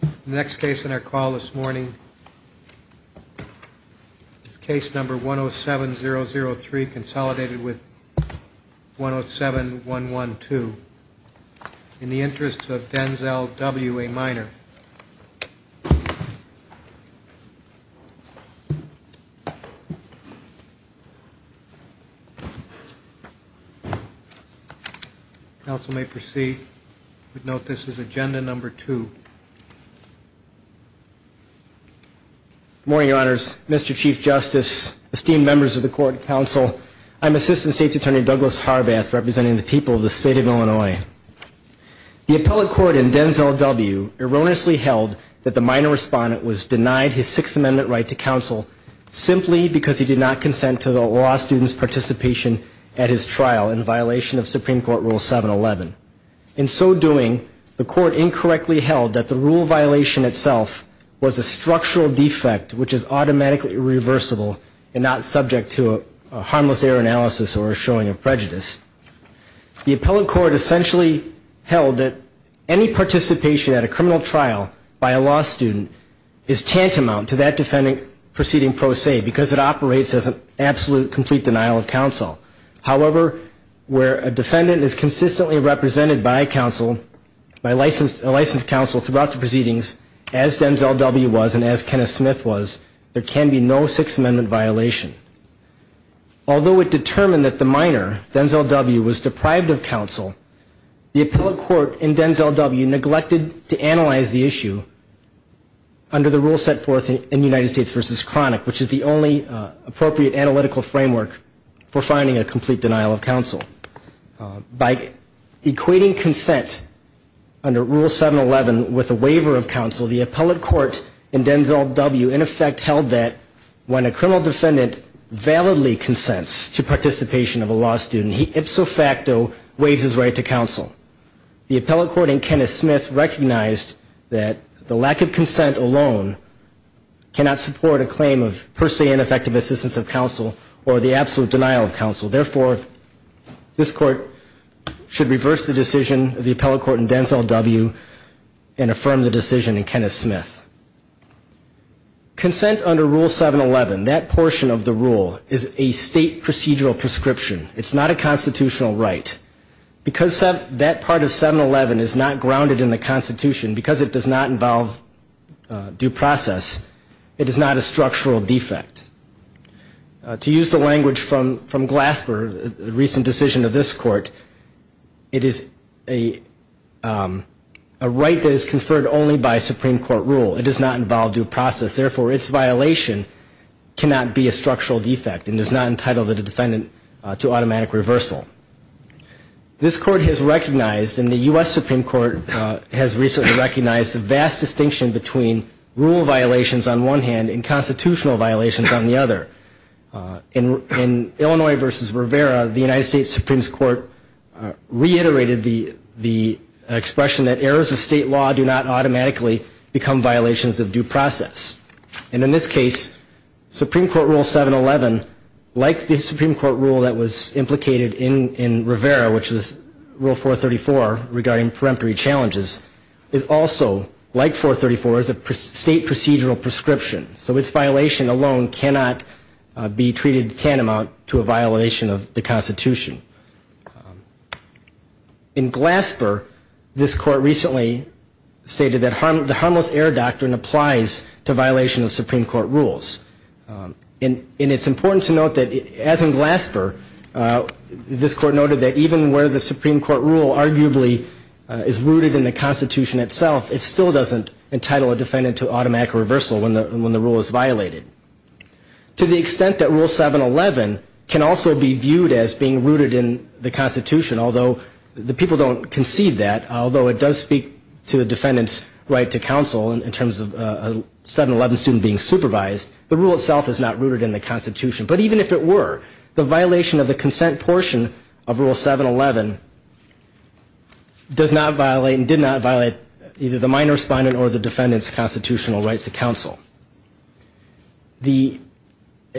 The next case on our call this morning is case number 107003, consolidated with 107112. In the Interests of Denzel W. A. Minor. Counsel may proceed. Note this is agenda number two. Good morning, Your Honors. Mr. Chief Justice, esteemed members of the court and counsel, I'm Assistant State's Attorney Douglas Harbath representing the people of the state of Illinois. The appellate court in Denzel W. erroneously held that the minor respondent was denied his Sixth Amendment right to counsel simply because he did not consent to the law student's participation at his trial in violation of Supreme Court Rule 711. In so doing, the court incorrectly held that the rule violation itself was a structural defect which is automatically irreversible and not subject to a harmless error analysis or a showing of prejudice. The appellate court essentially held that any participation at a criminal trial by a law student is tantamount to that defendant proceeding pro se because it operates as an absolute complete denial of counsel. However, where a defendant is consistently represented by counsel, by licensed counsel throughout the proceedings, as Denzel W. was and as Kenneth Smith was, there can be no Sixth Amendment violation. Although it determined that the minor, Denzel W., was deprived of counsel, the appellate court in Denzel W. neglected to analyze the issue under the rule set forth in United States v. Chronic, which is the only appropriate analytical framework for finding a complete denial of counsel. By equating consent under Rule 711 with a waiver of counsel, the appellate court in Denzel W. in effect held that when a criminal defendant validly consents to participation of a law student, he ipso facto waives his right to counsel. The appellate court in Kenneth Smith recognized that the lack of consent alone cannot support a claim of per se ineffective assistance of counsel or the absolute denial of counsel. Therefore, this court should reverse the decision of the appellate court in Denzel W. and affirm the decision in Kenneth Smith. Consent under Rule 711, that portion of the rule, is a state procedural prescription. It's not a constitutional right. Because that part of 711 is not grounded in the Constitution, because it does not involve due process, it is not a structural defect. To use the language from Glasper, the recent decision of this court, it is a right that is conferred only by Supreme Court rule. It does not involve due process. Therefore, its violation cannot be a structural defect and does not entitle the defendant to automatic reversal. This court has recognized, and the U.S. Supreme Court has recently recognized, the vast distinction between rule violations on one hand and constitutional violations on the other. In Illinois v. Rivera, the United States Supreme Court reiterated the expression that errors of state law do not automatically become violations of due process. And in this case, Supreme Court Rule 711, like the Supreme Court rule that was implicated in Rivera, which was Rule 434 regarding peremptory challenges, is also, like 434, is a state procedural prescription. So its violation alone cannot be treated tantamount to a violation of the Constitution. In Glasper, this court recently stated that the harmless error doctrine applies to violation of Supreme Court rules. And it's important to note that, as in Glasper, this court noted that even where the Supreme Court rule arguably is rooted in the Constitution itself, it still doesn't entitle a defendant to automatic reversal when the rule is violated. To the extent that Rule 711 can also be viewed as being rooted in the Constitution, although the people don't concede that, although it does speak to the defendant's right to counsel in terms of a 711 student being supervised, the rule itself is not rooted in the Constitution. But even if it were, the violation of the consent portion of Rule 711 does not violate and did not violate either the minor respondent or the defendant's constitutional rights to counsel.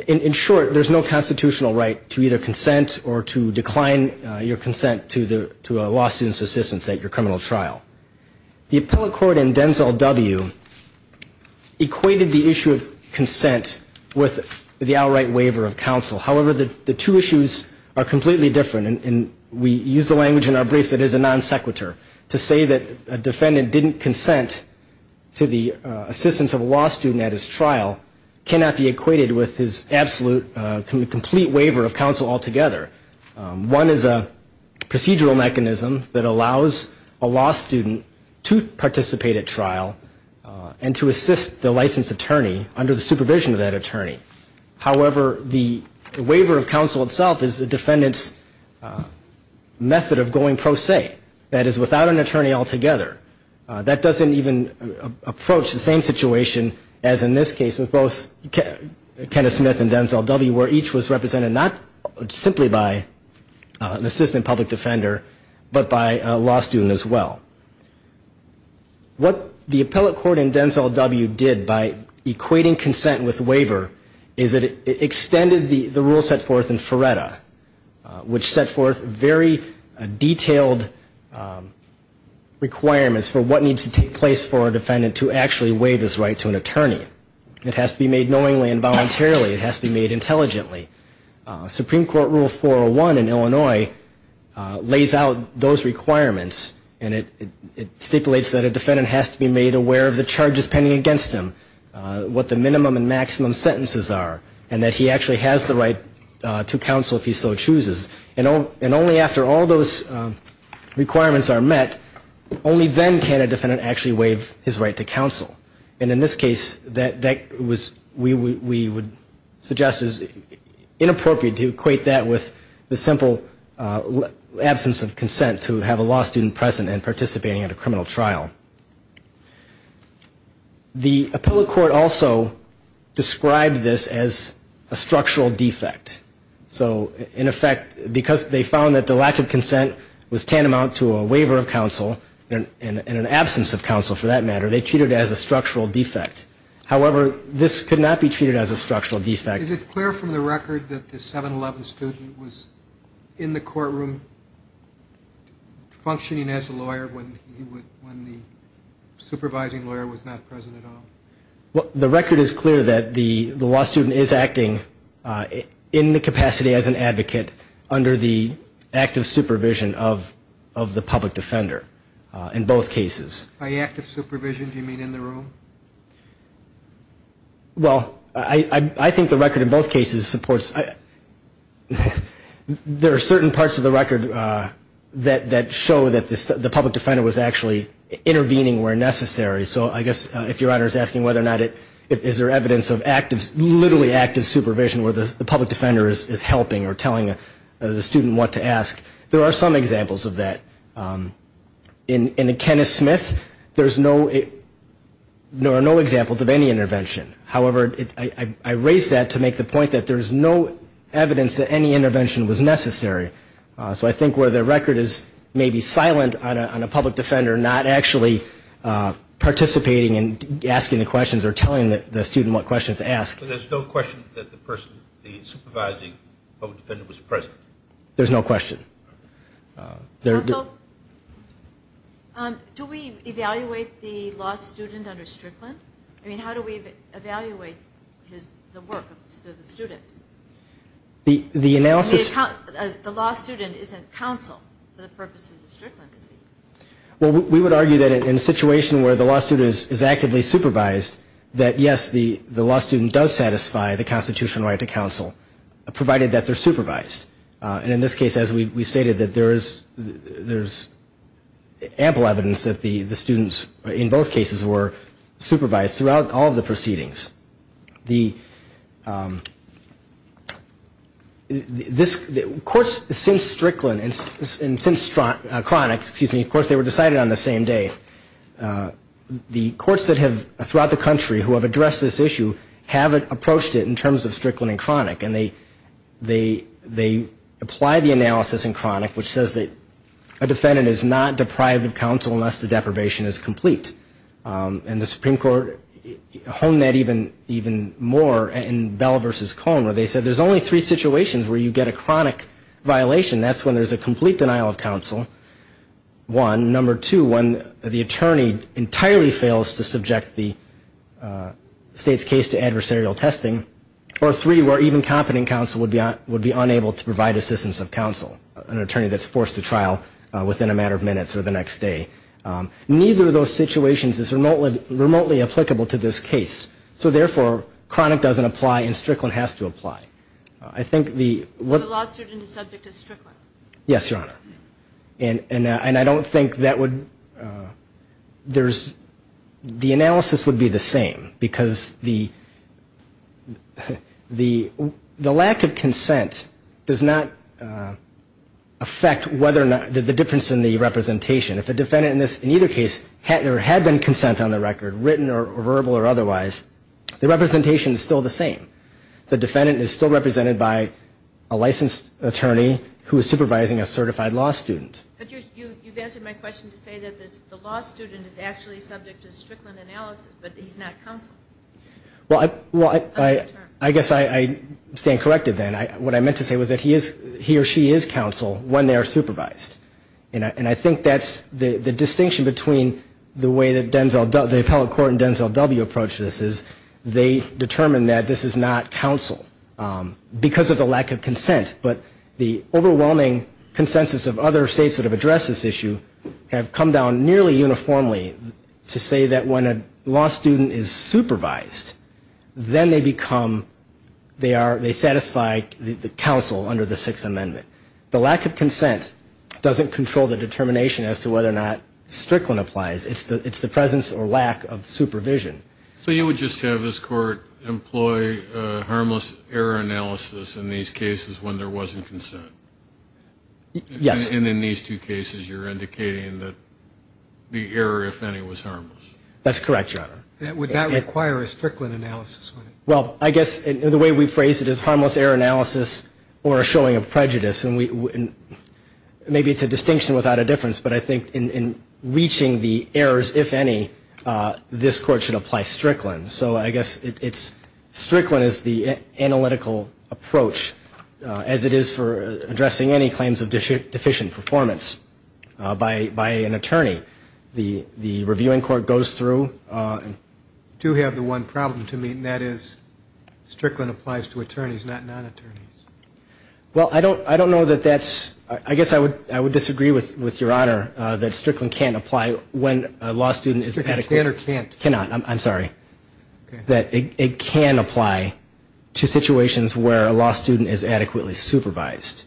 In short, there's no constitutional right to either consent or to decline your consent to a law student's assistance at your criminal trial. The appellate court in Denzel W. equated the issue of consent with the outright waiver of counsel. However, the two issues are completely different, and we use the language in our brief that is a non sequitur. To say that a defendant didn't consent to the assistance of a law student at his trial cannot be equated with his absolute complete waiver of counsel altogether. One is a procedural mechanism that allows a law student to participate at trial and to assist the licensed attorney under the supervision of that attorney. However, the waiver of counsel itself is the defendant's method of going pro se. That is, without an attorney altogether. That doesn't even approach the same situation as in this case with both Kenneth Smith and Denzel W. where each was represented not simply by an assistant public defender, but by a law student as well. What the appellate court in Denzel W. did by equating consent with waiver is it extended the rule set forth in Feretta, which set forth very detailed requirements for what needs to take place for a defendant to actually waive his right to an attorney. It has to be made knowingly and voluntarily, it has to be made intelligently. Supreme Court Rule 401 in Illinois lays out those requirements, and it stipulates that a defendant has to be made aware of the charges pending against him, what the minimum and maximum sentences are, and that he actually has the right to counsel if he so chooses. And only after all those requirements are met, only then can a defendant actually waive his right to counsel. And in this case, that was, we would suggest is inappropriate to equate that with the simple absence of consent to have a law student present and participating in a criminal trial. The appellate court also described this as a structural defect. So in effect, because they found that the lack of consent was tantamount to a waiver of counsel, and an absence of counsel for that matter, they treated it as a structural defect. However, this could not be treated as a structural defect. Is it clear from the record that the 7-11 student was in the courtroom functioning as a lawyer when the supervising lawyer was not present at all? The record is clear that the law student is acting in the capacity as an advocate under the active supervision of the public defender in both cases. By active supervision, do you mean in the room? Well, I think the record in both cases supports, there are certain parts of the record that show that the public defender was actually intervening where necessary. So I guess if Your Honor is asking whether or not, is there evidence of active, literally active supervision where the public defender is helping or telling the student what to ask, there are some examples of that. In Kenneth Smith, there are no examples of any intervention. However, I raise that to make the point that there is no evidence that any intervention was necessary. So I think where the record is maybe silent on a public defender not actually participating and asking the questions or telling the student what questions to ask. But there's no question that the person, the supervising public defender was present? There's no question. Counsel, do we evaluate the law student under Strickland? I mean, how do we evaluate the work of the student? The analysis... The law student isn't counsel for the purposes of Strickland, is he? Well, we would argue that in a situation where the law student is actively supervised, that yes, the law student does satisfy the constitutional right to counsel, provided that they're supervised. And in this case, as we stated, that there is ample evidence that the students in both cases were supervised throughout all of the proceedings. The courts since Strickland and since Cronic, excuse me, of course they were decided on the same day. The courts that have, throughout the country, who have addressed this issue, haven't approached it in terms of Strickland and Cronic, and they apply the analysis in Cronic, which says that a defendant is not deprived of counsel unless the deprivation is complete. And the Supreme Court honed that even more in Bell v. Cone, where they said there's only three situations where you get a Cronic violation. That's when there's a complete denial of counsel, one. Number two, when the attorney entirely fails to subject the state's case to adversarial testing. Or three, where even competent counsel would be unable to provide assistance of counsel, an attorney that's forced to trial within a matter of minutes or the next day. Neither of those situations is remotely applicable to this case. So therefore, Cronic doesn't apply, and Strickland has to apply. Yes, Your Honor. And I don't think that would, there's, the analysis would be the same, because the lack of consent does not affect whether or not, the difference in the representation. If the defendant in either case had been consent on the record, written or verbal or otherwise, the representation is still the same. The defendant is still represented by a licensed attorney who is supervising a certified law student. But you've answered my question to say that the law student is actually subject to Strickland analysis, but he's not counsel. Well, I guess I stand corrected then. What I meant to say was that he or she is counsel when they are supervised. And I think that's the distinction between the way that the appellate court and Denzel W. approached this is they determined that this is not counsel because of the lack of consent. But the overwhelming consensus of other states that have addressed this issue have come down nearly uniformly to say that when a law student is supervised, then they become, they are, they satisfy the counsel under the Sixth Amendment. The lack of consent doesn't control the determination as to whether or not Strickland applies. It's the presence or lack of supervision. So you would just have this Court employ harmless error analysis in these cases when there wasn't consent? Yes. And in these two cases, you're indicating that the error, if any, was harmless? That's correct, Your Honor. That would not require a Strickland analysis. Well, I guess the way we phrase it is harmless error analysis or a showing of prejudice. Maybe it's a distinction without a difference, but I think in reaching the errors, if any, this Court should apply Strickland. So I guess it's, Strickland is the analytical approach as it is for addressing any claims of deficient performance by an attorney. The Reviewing Court goes through. I do have the one problem to meet, and that is Strickland applies to attorneys, not non-attorneys. Well, I don't know that that's, I guess I would disagree with Your Honor that Strickland can't apply when a law student is adequately Strickland can or can't? Cannot, I'm sorry. That it can apply to situations where a law student is adequately supervised.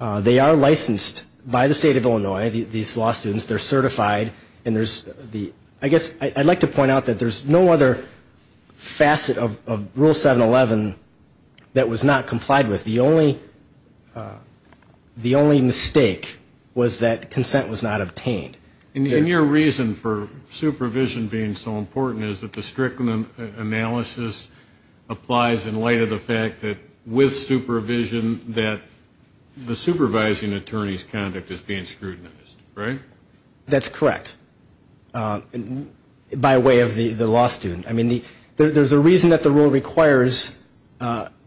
They are licensed by the State of Illinois, these law students, they're certified, and there's the, I guess, I'd like to point out that there's no other facet of Rule 711 that was not complied with. The only mistake was that consent was not obtained. And your reason for supervision being so important is that the Strickland analysis applies in light of the fact that with supervision that the supervising attorney's conduct is being scrutinized, right? That's correct, by way of the law student. I mean, there's a reason that the rule requires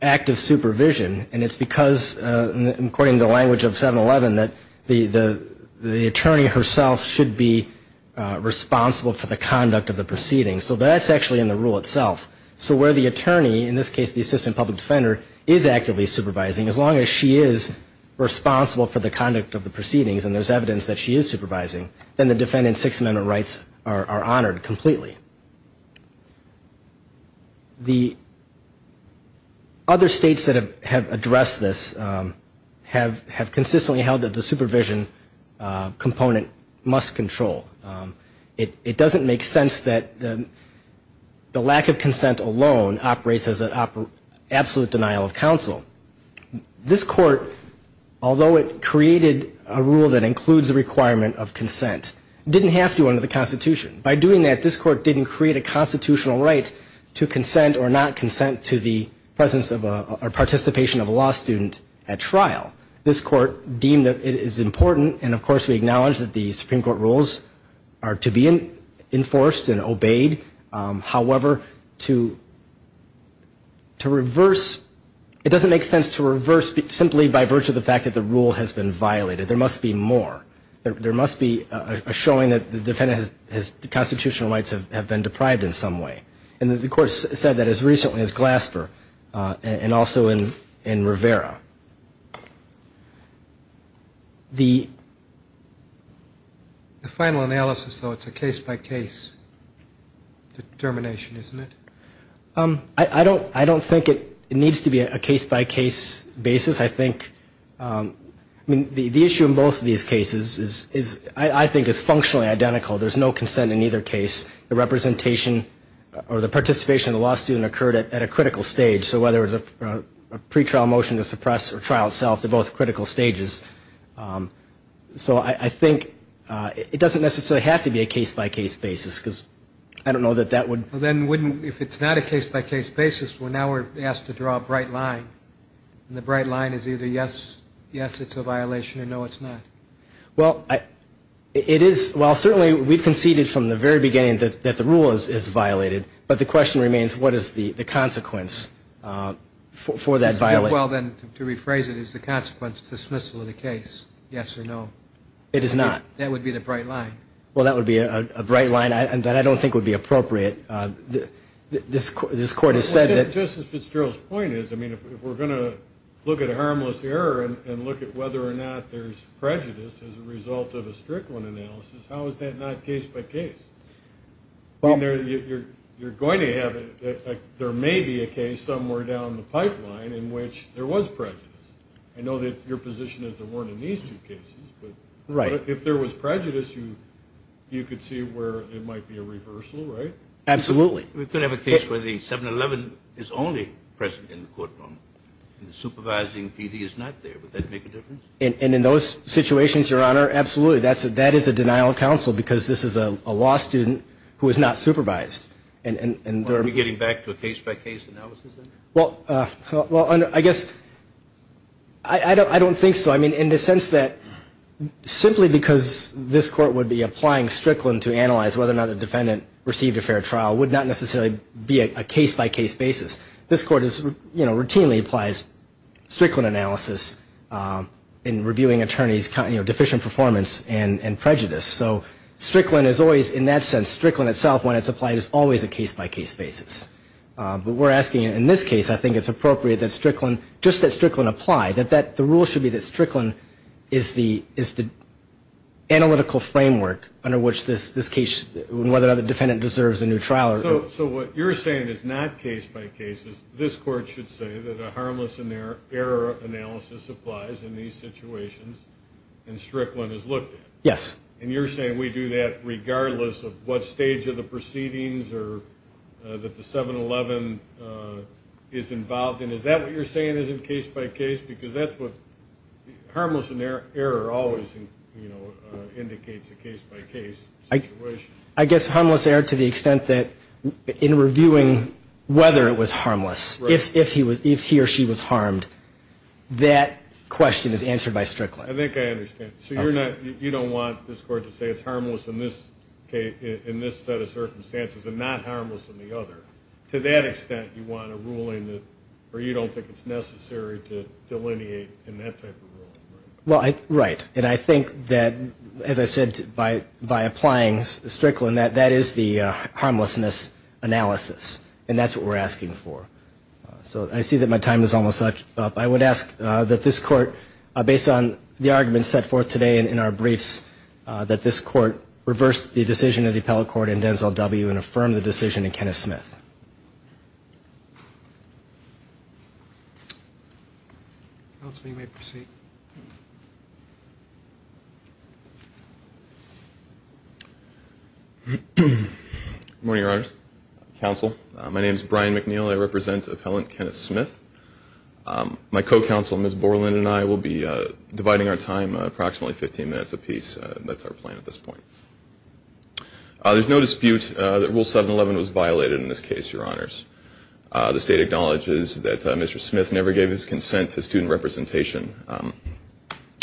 active supervision, and it's because, according to the language of 711, that the attorney herself should be responsible for the conduct of the proceedings. So that's actually in the rule itself. So where the attorney, in this case the assistant public defender, is actively supervising, as long as she is responsible for the conduct of the proceedings and there's evidence that she is supervising, then the defendant's Sixth Amendment rights are honored completely. The other states that have addressed this have consistently held that the supervision component must control. It doesn't make sense that the lack of consent alone operates as an absolute denial of counsel. This Court, although it created a rule that includes the requirement of consent, didn't have to under the Constitution. By doing that, this Court didn't create a constitutional right to consent or not consent to the presence of a or participation of a law student at trial. This Court deemed that it is important, and of course we acknowledge that the Supreme Court rules are to be enforced and obeyed. However, to reverse, it doesn't make sense to reverse simply by virtue of the fact that the rule has been violated. There must be more, there must be a showing that the constitutional rights have been deprived in some way. And the Court said that as recently as Glasper and also in Rivera. The final analysis, though, it's a case-by-case determination, isn't it? I don't think it needs to be a case-by-case basis. I think, I mean, the issue in both of these cases is, I think, is functionally identical. There's no consent in either case. The representation or the participation of the law student occurred at a critical stage. So whether it was a pretrial motion to suppress or trial itself, they're both critical stages. So I think it doesn't necessarily have to be a case-by-case basis, because I don't know that that would... The line is either yes, yes, it's a violation, or no, it's not. Well, it is, well, certainly we've conceded from the very beginning that the rule is violated. But the question remains, what is the consequence for that violation? Well, then, to rephrase it, is the consequence dismissal of the case, yes or no? It is not. That would be the bright line. Well, that would be a bright line that I don't think would be appropriate. This Court has said that... Justice Fitzgerald's point is, I mean, if we're going to look at a harmless error and look at whether or not there's prejudice as a result of a Strickland analysis, how is that not case-by-case? I mean, you're going to have... There may be a case somewhere down the pipeline in which there was prejudice. I know that your position is there weren't in these two cases, but if there was prejudice, you could see where it might be a reversal, right? Absolutely. We could have a case where the 7-11 is only present in the courtroom, and the supervising PD is not there. Would that make a difference? And in those situations, Your Honor, absolutely. That is a denial of counsel, because this is a law student who is not supervised. Are we getting back to a case-by-case analysis then? Well, I guess... I don't think so. I mean, in the sense that simply because this Court would be applying Strickland to analyze whether or not a defendant received a fair trial would not necessarily be a case-by-case basis. This Court routinely applies Strickland analysis in reviewing attorneys' deficient performance and prejudice. So Strickland is always, in that sense, Strickland itself, when it's applied, is always a case-by-case basis. But we're asking, in this case, I think it's appropriate that Strickland, just that Strickland apply, that the rule should be that Strickland is the analytical framework under which this case, whether or not the defendant deserves a new trial. So what you're saying is not case-by-case. This Court should say that a harmless error analysis applies in these situations, and Strickland is looked at. Yes. And you're saying we do that regardless of what stage of the proceedings or that the 7-11 is involved in. Is that what you're saying is in case-by-case? Because that's what harmless error always indicates, a case-by-case situation. I guess harmless error to the extent that in reviewing whether it was harmless, if he or she was harmed, that question is answered by Strickland. I think I understand. So you don't want this Court to say it's harmless in this set of circumstances and not harmless in the other. To that extent, you want a ruling where you don't think it's necessary to delineate in that type of ruling. Right. And I think that, as I said, by applying Strickland, that is the harmlessness analysis. And that's what we're asking for. So I see that my time is almost up. I would ask that this Court, based on the arguments set forth today in our briefs, that this Court reverse the decision of the appellate court in Denzel W. and affirm the decision in Kenneth Smith. Counsel, you may proceed. Good morning, Your Honors. Counsel, my name is Brian McNeil. I represent Appellant Kenneth Smith. My co-counsel, Ms. Borland, and I will be dividing our time approximately 15 minutes apiece. That's our plan at this point. There's no dispute that Rule 711 was violated in this case, Your Honors. The State acknowledges that Mr. Smith never gave his consent to student representation. The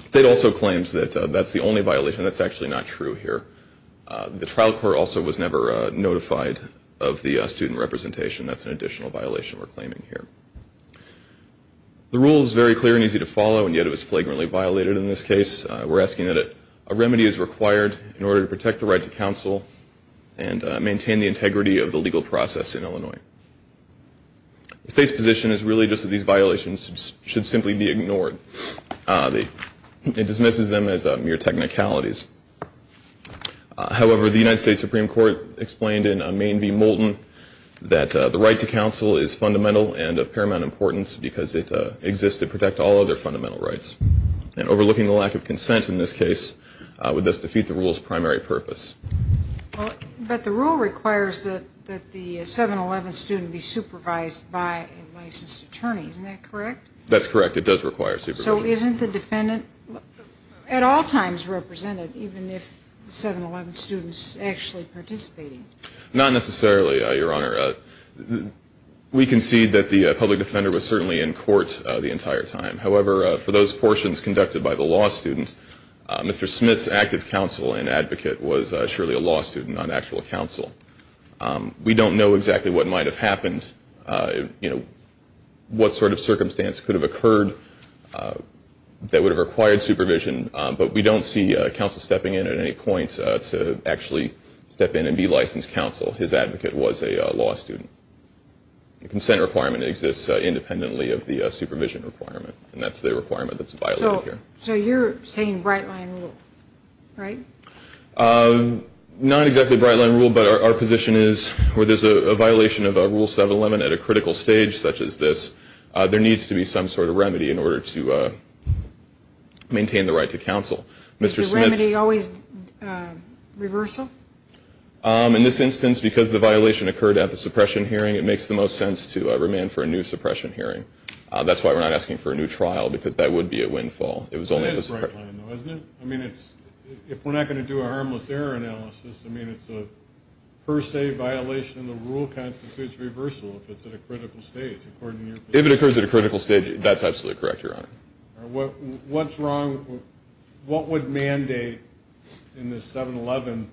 State also claims that that's the only violation. That's actually not true here. The trial court also was never notified of the student representation. That's an additional violation we're claiming here. The Rule is very clear and easy to follow, and yet it was flagrantly violated in this case. We're asking that a remedy is required in order to protect the right to counsel and maintain the integrity of the legal process in Illinois. The State's position is really just that these violations should simply be ignored. It dismisses them as mere technicalities. However, the United States Supreme Court explained in Mayne v. Moulton that the right to counsel is fundamental and of paramount importance because it exists to protect all other fundamental rights. Overlooking the lack of consent in this case would thus defeat the Rule's primary purpose. But the Rule requires that the 711 student be supervised by a licensed attorney. Isn't that correct? That's correct. It does require supervision. So isn't the defendant at all times represented, even if the 711 student is actually participating? Not necessarily, Your Honor. We concede that the public defender was certainly in court the entire time. However, for those portions conducted by the law student, Mr. Smith's active counsel and advocate was surely a law student, not actual counsel. We don't know exactly what might have happened, what sort of circumstance could have occurred that would have required supervision, but we don't see counsel stepping in at any point to actually step in and be licensed counsel. His advocate was a law student. The consent requirement exists independently of the supervision requirement, and that's the requirement that's violated here. So you're saying Bright Line Rule, right? Not exactly Bright Line Rule, but our position is where there's a violation of Rule 711 at a critical stage such as this, there needs to be some sort of remedy in order to maintain the right to counsel. Is the remedy always reversal? In this instance, because the violation occurred at the suppression hearing, it makes the most sense to remand for a new suppression hearing. That's why we're not asking for a new trial, because that would be a windfall. That is Bright Line, though, isn't it? I mean, if we're not going to do a harmless error analysis, I mean, it's a per se violation of the Rule constitutes reversal if it's at a critical stage, according to your position. If it occurs at a critical stage, that's absolutely correct, Your Honor. What's wrong? What would mandate in the 711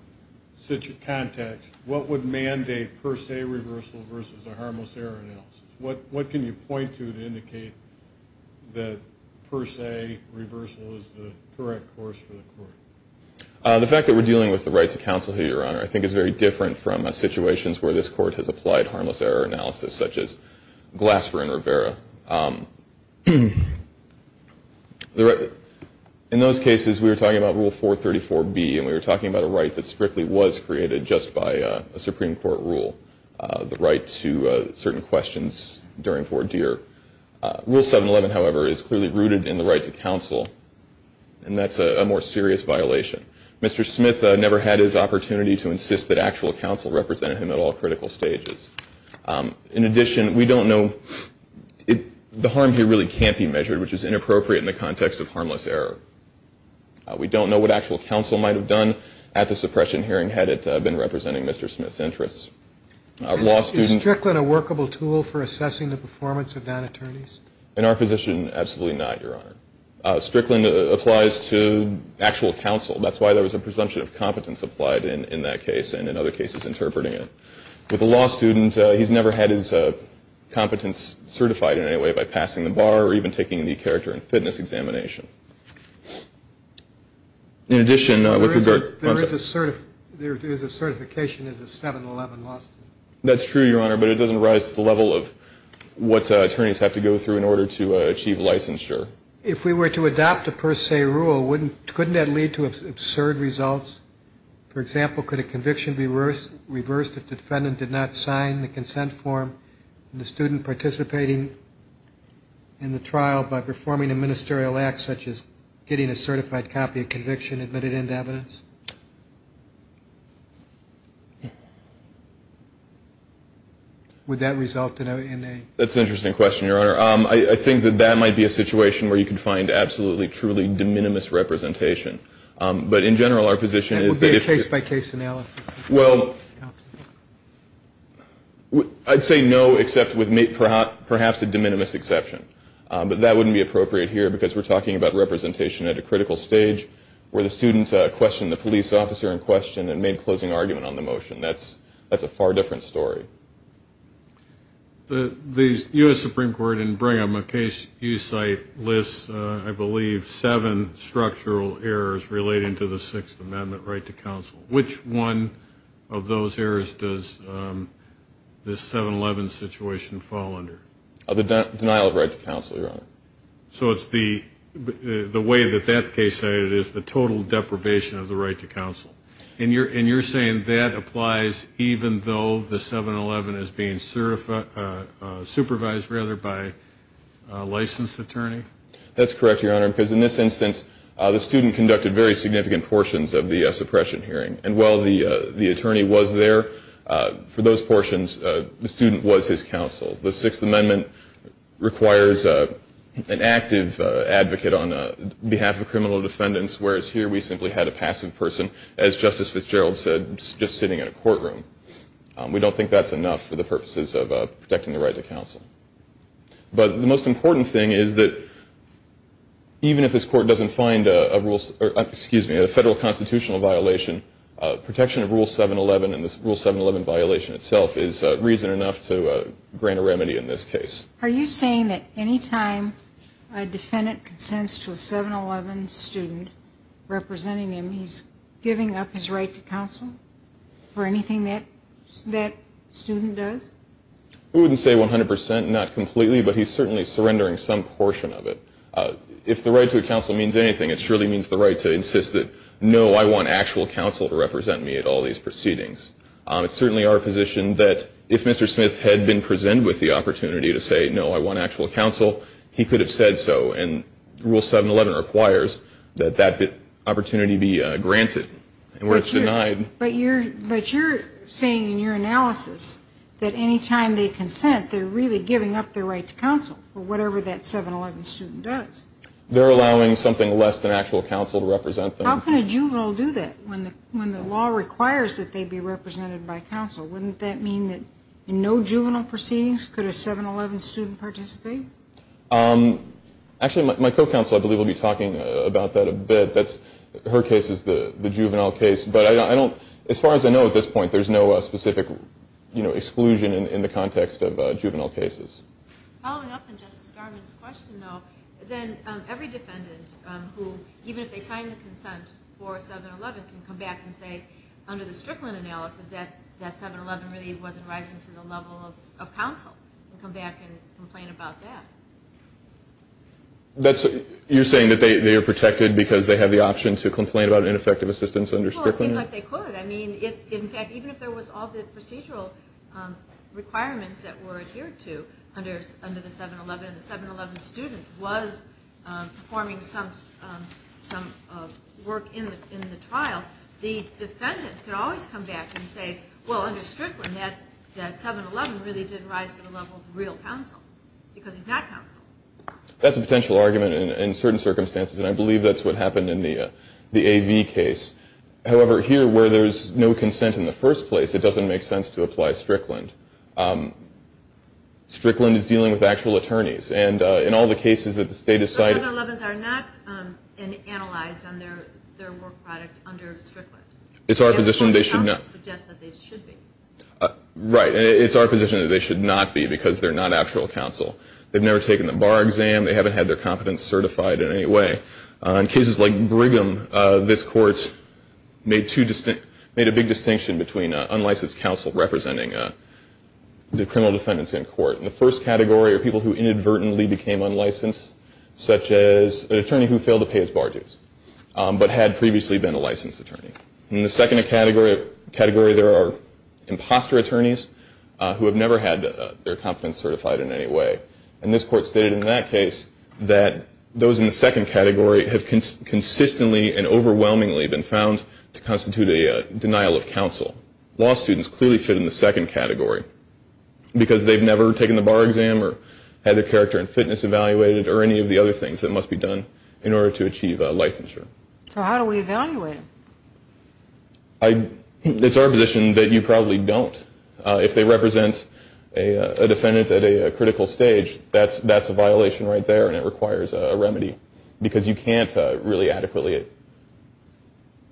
context, what would mandate per se reversal versus a harmless error analysis? What can you point to to indicate that per se reversal is the correct course for the court? The fact that we're dealing with the rights of counsel here, Your Honor, I think is very different from situations where this court has applied harmless error analysis, such as Glasser and Rivera. In those cases, we were talking about Rule 434B, and we were talking about a right that strictly was created just by a Supreme Court rule, the right to certain questions during voir dire. Rule 711, however, is clearly rooted in the right to counsel, and that's a more serious violation. Mr. Smith never had his opportunity to insist that actual counsel represented him at all critical stages. In addition, we don't know, the harm here really can't be measured, which is inappropriate in the context of harmless error. We don't know what actual counsel might have done at the suppression hearing had it been representing Mr. Smith's interests. Is Strickland a workable tool for assessing the performance of non-attorneys? In our position, absolutely not, Your Honor. Strickland applies to actual counsel. That's why there was a presumption of competence applied in that case and in other cases interpreting it. With a law student, he's never had his competence certified in any way by passing the bar or even taking the character and fitness examination. In addition, with regard to... There is a certification as a 711 law student. That's true, Your Honor, but it doesn't rise to the level of what attorneys have to go through in order to achieve licensure. If we were to adopt a per se rule, wouldn't, couldn't that lead to absurd results? For example, could a conviction be reversed if the defendant did not sign the consent form and the student participating in the trial by performing a ministerial act such as getting a certified copy of conviction admitted into evidence? Would that result in a... That's an interesting question, Your Honor. I think that that might be a situation where you can find absolutely, truly de minimis representation. But in general, our position is that if... It would be a case-by-case analysis. Well, I'd say no, except with perhaps a de minimis exception. But that wouldn't be appropriate here because we're talking about representation at a critical stage where the student questioned the police officer in question and made a closing argument on the motion. That's a far different story. The U.S. Supreme Court in Brigham, a case you cite, lists, I believe, seven structural errors relating to the Sixth Amendment right to counsel. Which one of those errors does this 7-11 situation fall under? The denial of right to counsel, Your Honor. So it's the way that that case cited is the total deprivation of the right to counsel. And you're saying that applies even though the 7-11 is being supervised by a licensed attorney? That's correct, Your Honor, because in this instance, the student conducted very significant portions of the suppression hearing. And while the attorney was there for those portions, the student was his counsel. The Sixth Amendment requires an active advocate on behalf of criminal defendants, whereas here we simply had a passive person, as Justice Fitzgerald said, just sitting in a courtroom. We don't think that's enough for the purposes of protecting the right to counsel. But the most important thing is that even if this court doesn't find a federal constitutional violation, protection of Rule 7-11 and this Rule 7-11 violation itself is reason enough to grant a remedy in this case. Are you saying that any time a defendant consents to a 7-11 student representing him, he's giving up his right to counsel for anything that student does? We wouldn't say 100 percent, not completely, but he's certainly surrendering some portion of it. If the right to counsel means anything, it surely means the right to insist that, no, I want actual counsel to represent me at all these proceedings. It's certainly our position that if Mr. Smith had been presented with the opportunity to say, no, I want actual counsel, he could have said so. And Rule 7-11 requires that that opportunity be granted. But you're saying in your analysis that any time they consent, they're really giving up their right to counsel for whatever that 7-11 student does. They're allowing something less than actual counsel to represent them. How can a juvenile do that when the law requires that they be represented by counsel? Wouldn't that mean that in no juvenile proceedings could a 7-11 student participate? Actually, my co-counsel, I believe, will be talking about that a bit. Her case is the juvenile case. But as far as I know at this point, there's no specific exclusion in the context of juvenile cases. Following up on Justice Garvin's question, though, then every defendant who, even if they sign the consent for 7-11, can come back and say under the Strickland analysis that 7-11 really wasn't rising to the level of counsel and come back and complain about that. You're saying that they are protected because they have the option to complain about ineffective assistance under Strickland? Well, it seems like they could. I mean, in fact, even if there was all the procedural requirements that were adhered to under the 7-11 and the 7-11 student was performing some work in the trial, the defendant could always come back and say, well, under Strickland that 7-11 really did rise to the level of real counsel because he's not counsel. That's a potential argument in certain circumstances, and I believe that's what happened in the AV case. However, here where there's no consent in the first place, it doesn't make sense to apply Strickland. Strickland is dealing with actual attorneys, and in all the cases that the state has cited. So 7-11s are not analyzed on their work product under Strickland? It's our position they should not. Right. It's our position that they should not be because they're not actual counsel. They've never taken the bar exam. They haven't had their competence certified in any way. In cases like Brigham, this court made a big distinction between unlicensed counsel representing the criminal defendants in court. The first category are people who inadvertently became unlicensed, such as an attorney who failed to pay his bar dues, but had previously been a licensed attorney. In the second category, there are imposter attorneys who have never had their competence certified in any way. And this court stated in that case that those in the second category have consistently and overwhelmingly been found to constitute a denial of counsel. Law students clearly fit in the second category because they've never taken the bar exam or had their character and fitness evaluated or any of the other things that must be done in order to achieve licensure. So how do we evaluate them? It's our position that you probably don't. If they represent a defendant at a critical stage, that's a violation right there and it requires a remedy because you can't really adequately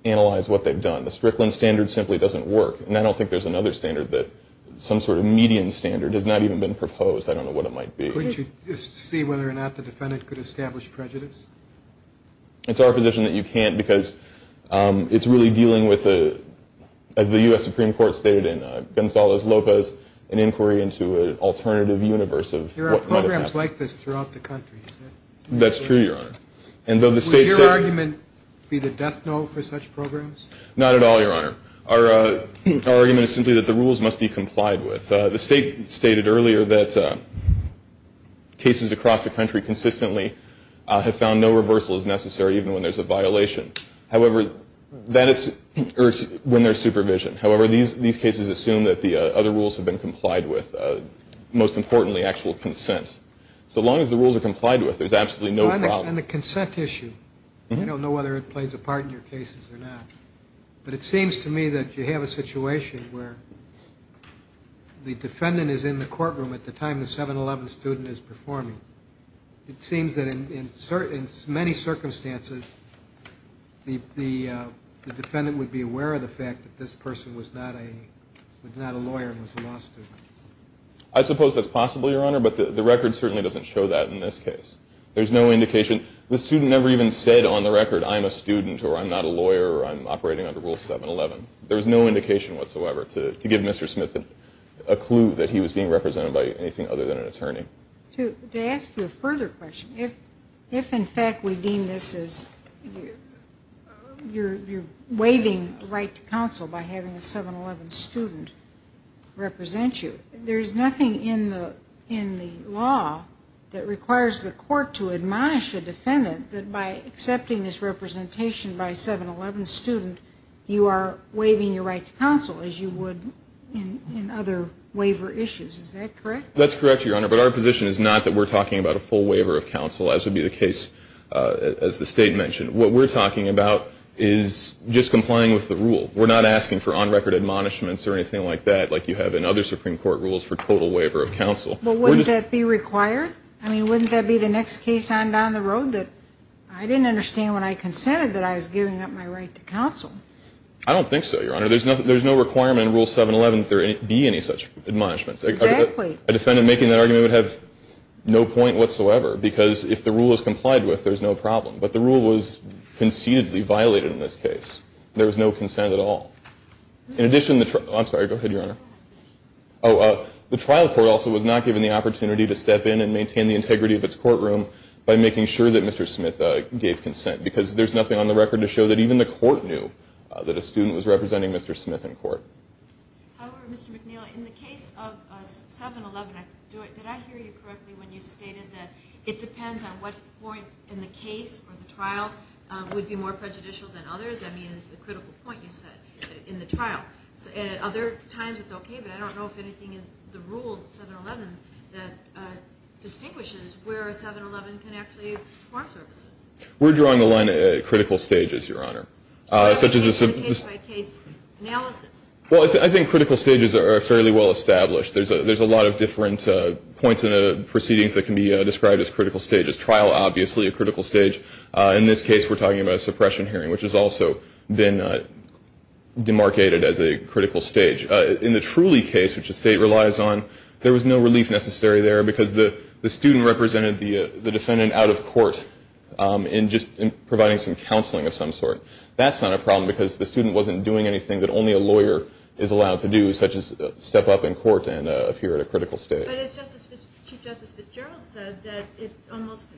analyze what they've done. The Strickland standard simply doesn't work, and I don't think there's another standard that some sort of median standard has not even been proposed. I don't know what it might be. Couldn't you just see whether or not the defendant could establish prejudice? It's our position that you can't because it's really dealing with, as the U.S. Supreme Court stated in Gonzales-Lopez, an inquiry into an alternative universe of what might have happened. There are programs like this throughout the country, is there? That's true, Your Honor. Would your argument be the death knell for such programs? Not at all, Your Honor. Our argument is simply that the rules must be complied with. The State stated earlier that cases across the country consistently have found no reversal is necessary, even when there's a violation. However, that is when there's supervision. However, these cases assume that the other rules have been complied with. Most importantly, actual consent. So long as the rules are complied with, there's absolutely no problem. On the consent issue, I don't know whether it plays a part in your cases or not, but it seems to me that you have a situation where the defendant is in the courtroom at the time the 7-11 student is performing. It seems that in many circumstances, the defendant would be aware of the fact that this person was not a lawyer and was a law student. I suppose that's possible, Your Honor, but the record certainly doesn't show that in this case. There's no indication. The student never even said on the record, I'm a student or I'm not a lawyer or I'm operating under Rule 7-11. There's no indication whatsoever to give Mr. Smith a clue that he was being represented by anything other than an attorney. To ask you a further question, if in fact we deem this as you're waiving the right to counsel by having a 7-11 student represent you, there's nothing in the law that requires the court to admonish a defendant that by accepting this representation by a 7-11 student, you are waiving your right to counsel as you would in other waiver issues. Is that correct? That's correct, Your Honor, but our position is not that we're talking about a full waiver of counsel, as would be the case as the State mentioned. What we're talking about is just complying with the rule. We're not asking for on-record admonishments or anything like that like you have in other Supreme Court rules for total waiver of counsel. But wouldn't that be required? I mean, wouldn't that be the next case on down the road that I didn't understand when I consented that I was giving up my right to counsel? I don't think so, Your Honor. There's no requirement in Rule 7-11 that there be any such admonishments. Exactly. A defendant making that argument would have no point whatsoever because if the rule is complied with, there's no problem. But the rule was concededly violated in this case. There was no consent at all. In addition, I'm sorry, go ahead, Your Honor. The trial court also was not given the opportunity to step in and maintain the integrity of its courtroom by making sure that Mr. Smith gave consent because there's nothing on the record to show that even the court knew that a student was representing Mr. Smith in court. Mr. McNeil, in the case of 7-11, did I hear you correctly when you stated that it depends on what point in the case or the trial would be more prejudicial than others? I mean, it's a critical point you said, in the trial. Other times it's okay, but I don't know if anything in the rules of 7-11 that distinguishes where 7-11 can actually perform services. We're drawing the line at critical stages, Your Honor. Such as a case-by-case analysis. Well, I think critical stages are fairly well established. There's a lot of different points in the proceedings that can be described as critical stages. There's trial, obviously, a critical stage. In this case, we're talking about a suppression hearing, which has also been demarcated as a critical stage. In the Trulli case, which the state relies on, there was no relief necessary there because the student represented the defendant out of court in just providing some counseling of some sort. That's not a problem because the student wasn't doing anything that only a lawyer is allowed to do, such as step up in court and appear at a critical stage. But Chief Justice Fitzgerald said that it almost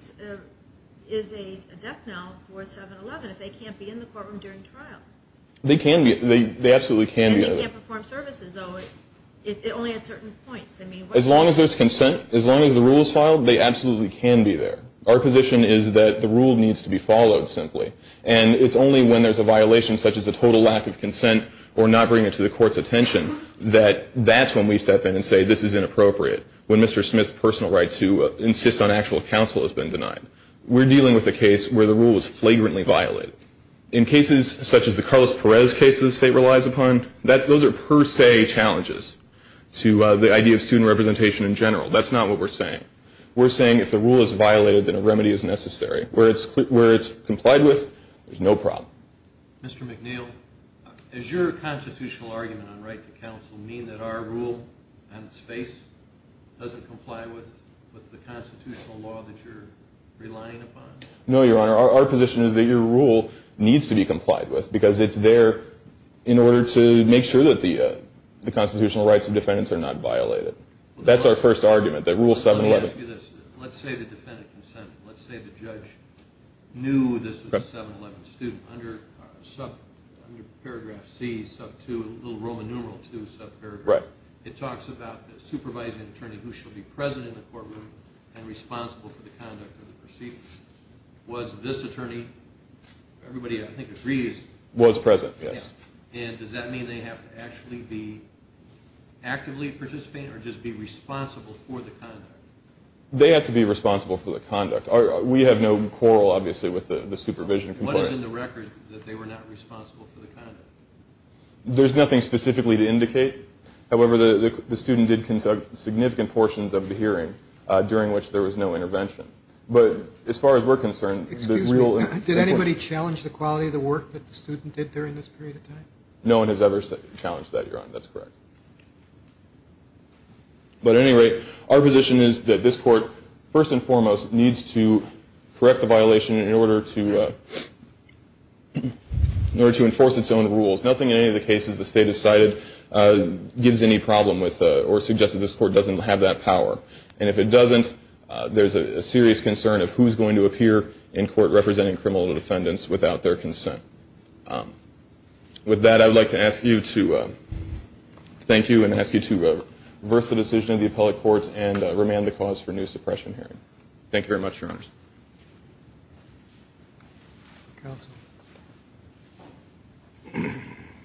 is a death knell for 7-11 if they can't be in the courtroom during trial. They can be. They absolutely can be. And they can't perform services, though. It only at certain points. As long as there's consent, as long as the rule is filed, they absolutely can be there. Our position is that the rule needs to be followed, simply. And it's only when there's a violation, such as a total lack of consent or not bringing it to the court's attention, that that's when we step in and say this is inappropriate, when Mr. Smith's personal right to insist on actual counsel has been denied. We're dealing with a case where the rule was flagrantly violated. In cases such as the Carlos Perez case that the state relies upon, those are per se challenges to the idea of student representation in general. That's not what we're saying. We're saying if the rule is violated, then a remedy is necessary. Where it's complied with, there's no problem. Mr. McNeil, does your constitutional argument on right to counsel mean that our rule, on its face, doesn't comply with the constitutional law that you're relying upon? No, Your Honor. Our position is that your rule needs to be complied with, because it's there in order to make sure that the constitutional rights of defendants are not violated. That's our first argument, that Rule 711. Let me ask you this. Let's say the defendant consented. Let's say the judge knew this was a 711 student. Under paragraph C sub 2, a little Roman numeral 2 sub paragraph, it talks about the supervising attorney who shall be present in the courtroom and responsible for the conduct of the proceedings. Was this attorney, everybody I think agrees, Was present, yes. And does that mean they have to actually be actively participating or just be responsible for the conduct? They have to be responsible for the conduct. We have no quarrel, obviously, with the supervision. What is in the record that they were not responsible for the conduct? There's nothing specifically to indicate. However, the student did conduct significant portions of the hearing during which there was no intervention. But as far as we're concerned, the real... Excuse me. Did anybody challenge the quality of the work that the student did during this period of time? No one has ever challenged that, Your Honor. That's correct. But at any rate, our position is that this court, first and foremost, needs to correct the violation in order to enforce its own rules. Nothing in any of the cases the State has cited gives any problem with or suggests that this court doesn't have that power. And if it doesn't, there's a serious concern of who's going to appear in court representing criminal defendants without their consent. With that, I would like to ask you to thank you and ask you to reverse the decision of the appellate court and remand the cause for a new suppression hearing. Thank you very much, Your Honors. Counsel.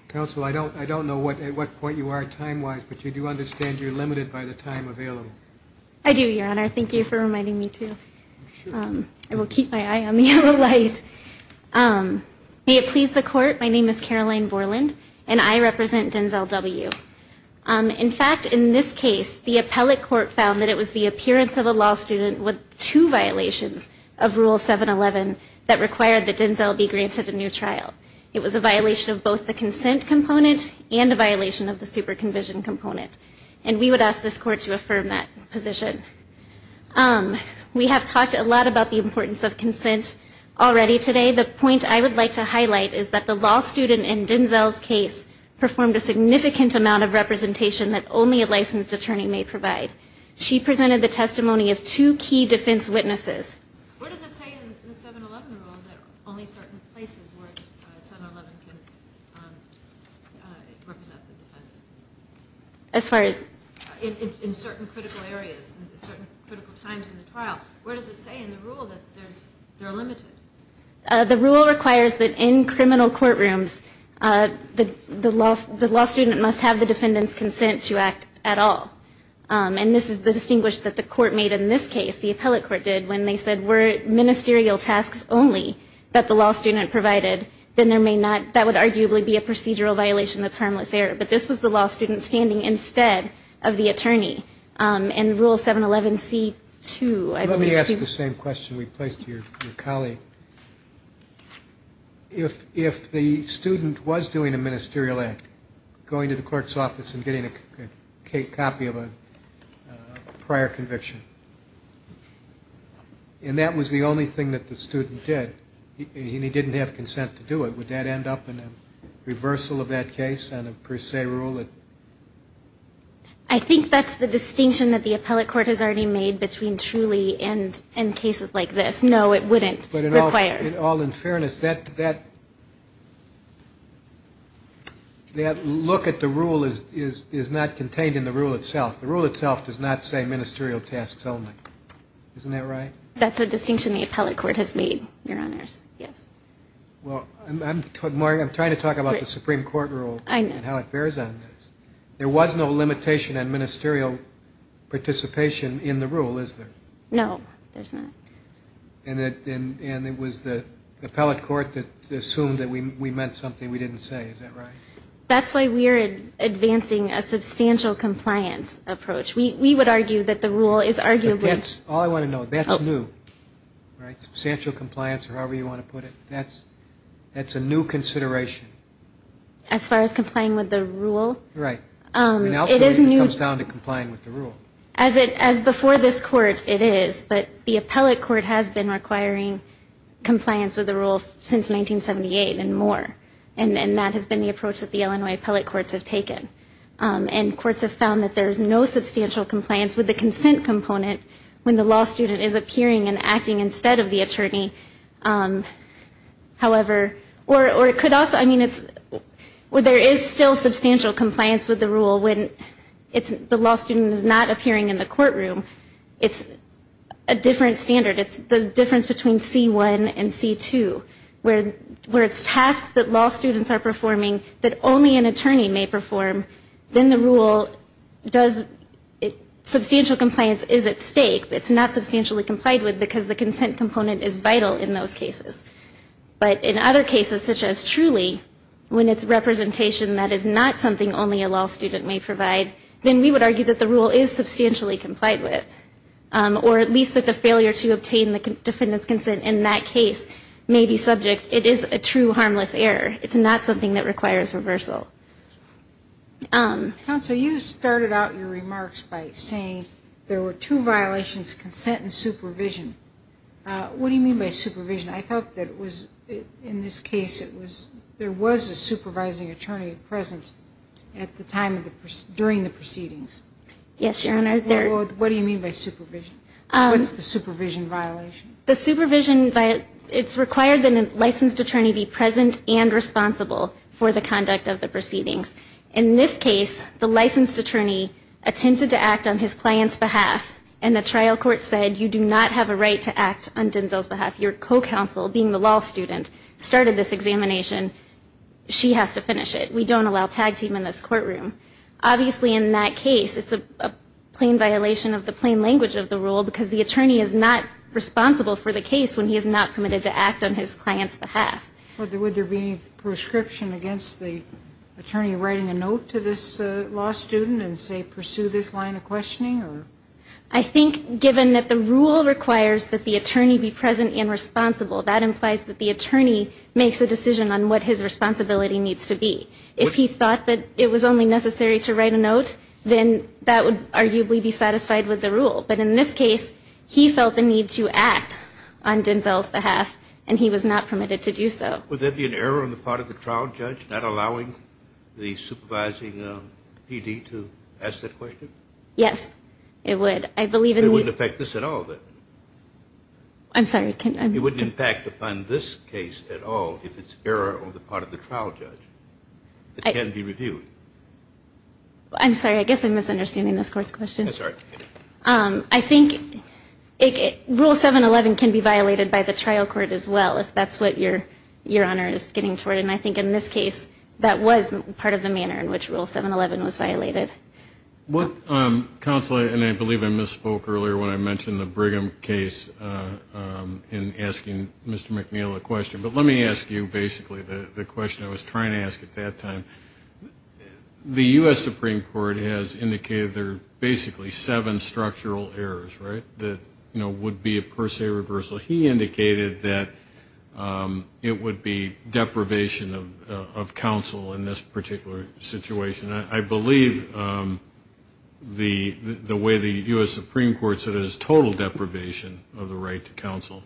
Counsel, I don't know at what point you are time-wise, but you do understand you're limited by the time available. I do, Your Honor. Thank you for reminding me, too. I will keep my eye on the yellow light. May it please the Court, my name is Caroline Borland, and I represent Denzel W. In fact, in this case, the appellate court found that it was the appearance of a law student with two violations of Rule 711 that required that Denzel be granted a new trial. It was a violation of both the consent component and a violation of the superconvision component. And we would ask this court to affirm that position. We have talked a lot about the importance of consent already, but today the point I would like to highlight is that the law student in Denzel's case performed a significant amount of representation that only a licensed attorney may provide. She presented the testimony of two key defense witnesses. Where does it say in the 711 rule that only certain places where 711 can represent the defense? As far as? In certain critical areas, in certain critical times in the trial. Where does it say in the rule that they're limited? The rule requires that in criminal courtrooms, the law student must have the defendant's consent to act at all. And this is the distinguish that the court made in this case, the appellate court did, when they said, were it ministerial tasks only that the law student provided, then there may not, that would arguably be a procedural violation that's harmless there. But this was the law student standing instead of the attorney. And rule 711C2, I believe. Let me ask the same question we placed to your colleague. If the student was doing a ministerial act, going to the court's office and getting a copy of a prior conviction, and that was the only thing that the student did, and he didn't have consent to do it, would that end up in a reversal of that case on a per se rule? I think that's the distinction that the appellate court has already made between truly and cases like this. No, it wouldn't require it. But all in fairness, that look at the rule is not contained in the rule itself. The rule itself does not say ministerial tasks only. Isn't that right? That's a distinction the appellate court has made, Your Honors. Yes. Well, I'm trying to talk about the Supreme Court rule. I know. And how it bears on this. There was no limitation on ministerial participation in the rule, is there? No, there's not. And it was the appellate court that assumed that we meant something we didn't say. Is that right? That's why we're advancing a substantial compliance approach. We would argue that the rule is arguably ñ But that's all I want to know. That's new, right, substantial compliance or however you want to put it. That's a new consideration. As far as complying with the rule? Right. An alternative comes down to complying with the rule. As before this court, it is. But the appellate court has been requiring compliance with the rule since 1978 and more. And that has been the approach that the Illinois appellate courts have taken. And courts have found that there is no substantial compliance with the consent component when the law student is appearing and acting instead of the attorney. However, or it could also ñ I mean, there is still substantial compliance with the rule when the law student is not appearing in the courtroom. It's a different standard. It's the difference between C1 and C2 where it's tasks that law students are performing that only an attorney may perform. Then the rule does ñ substantial compliance is at stake. It's not substantially complied with because the consent component is vital in those cases. But in other cases such as Truly, when it's representation that is not something only a law student may provide, then we would argue that the rule is substantially complied with, or at least that the failure to obtain the defendant's consent in that case may be subject. It is a true harmless error. It's not something that requires reversal. Counsel, you started out your remarks by saying there were two violations, consent and supervision. What do you mean by supervision? I thought that it was ñ in this case it was ñ there was a supervising attorney present at the time of the ñ during the proceedings. Yes, Your Honor. What do you mean by supervision? What's the supervision violation? The supervision ñ it's required that a licensed attorney be present and responsible for the conduct of the proceedings. In this case, the licensed attorney attempted to act on his client's behalf, and the trial court said you do not have a right to act on Denzel's behalf. Your co-counsel, being the law student, started this examination. She has to finish it. We don't allow tag team in this courtroom. Obviously, in that case, it's a plain violation of the plain language of the rule because the attorney is not responsible for the case when he is not permitted to act on his client's behalf. Would there be a prescription against the attorney writing a note to this law student and say pursue this line of questioning? I think, given that the rule requires that the attorney be present and responsible, that implies that the attorney makes a decision on what his responsibility needs to be. If he thought that it was only necessary to write a note, then that would arguably be satisfied with the rule. But in this case, he felt the need to act on Denzel's behalf, and he was not permitted to do so. Would there be an error on the part of the trial judge not allowing the supervising PD to ask that question? Yes, it would. It wouldn't affect this at all, then? I'm sorry. It wouldn't impact upon this case at all if it's error on the part of the trial judge. It can be reviewed. I'm sorry. I guess I'm misunderstanding this court's question. I'm sorry. I think Rule 711 can be violated by the trial court as well, if that's what Your Honor is getting toward. And I think in this case, that was part of the manner in which Rule 711 was violated. Counselor, and I believe I misspoke earlier when I mentioned the Brigham case in asking Mr. McNeill a question, but let me ask you basically the question I was trying to ask at that time. The U.S. Supreme Court has indicated there are basically seven structural errors, right, that would be a per se reversal. He indicated that it would be deprivation of counsel in this particular situation. I believe the way the U.S. Supreme Court said it is total deprivation of the right to counsel.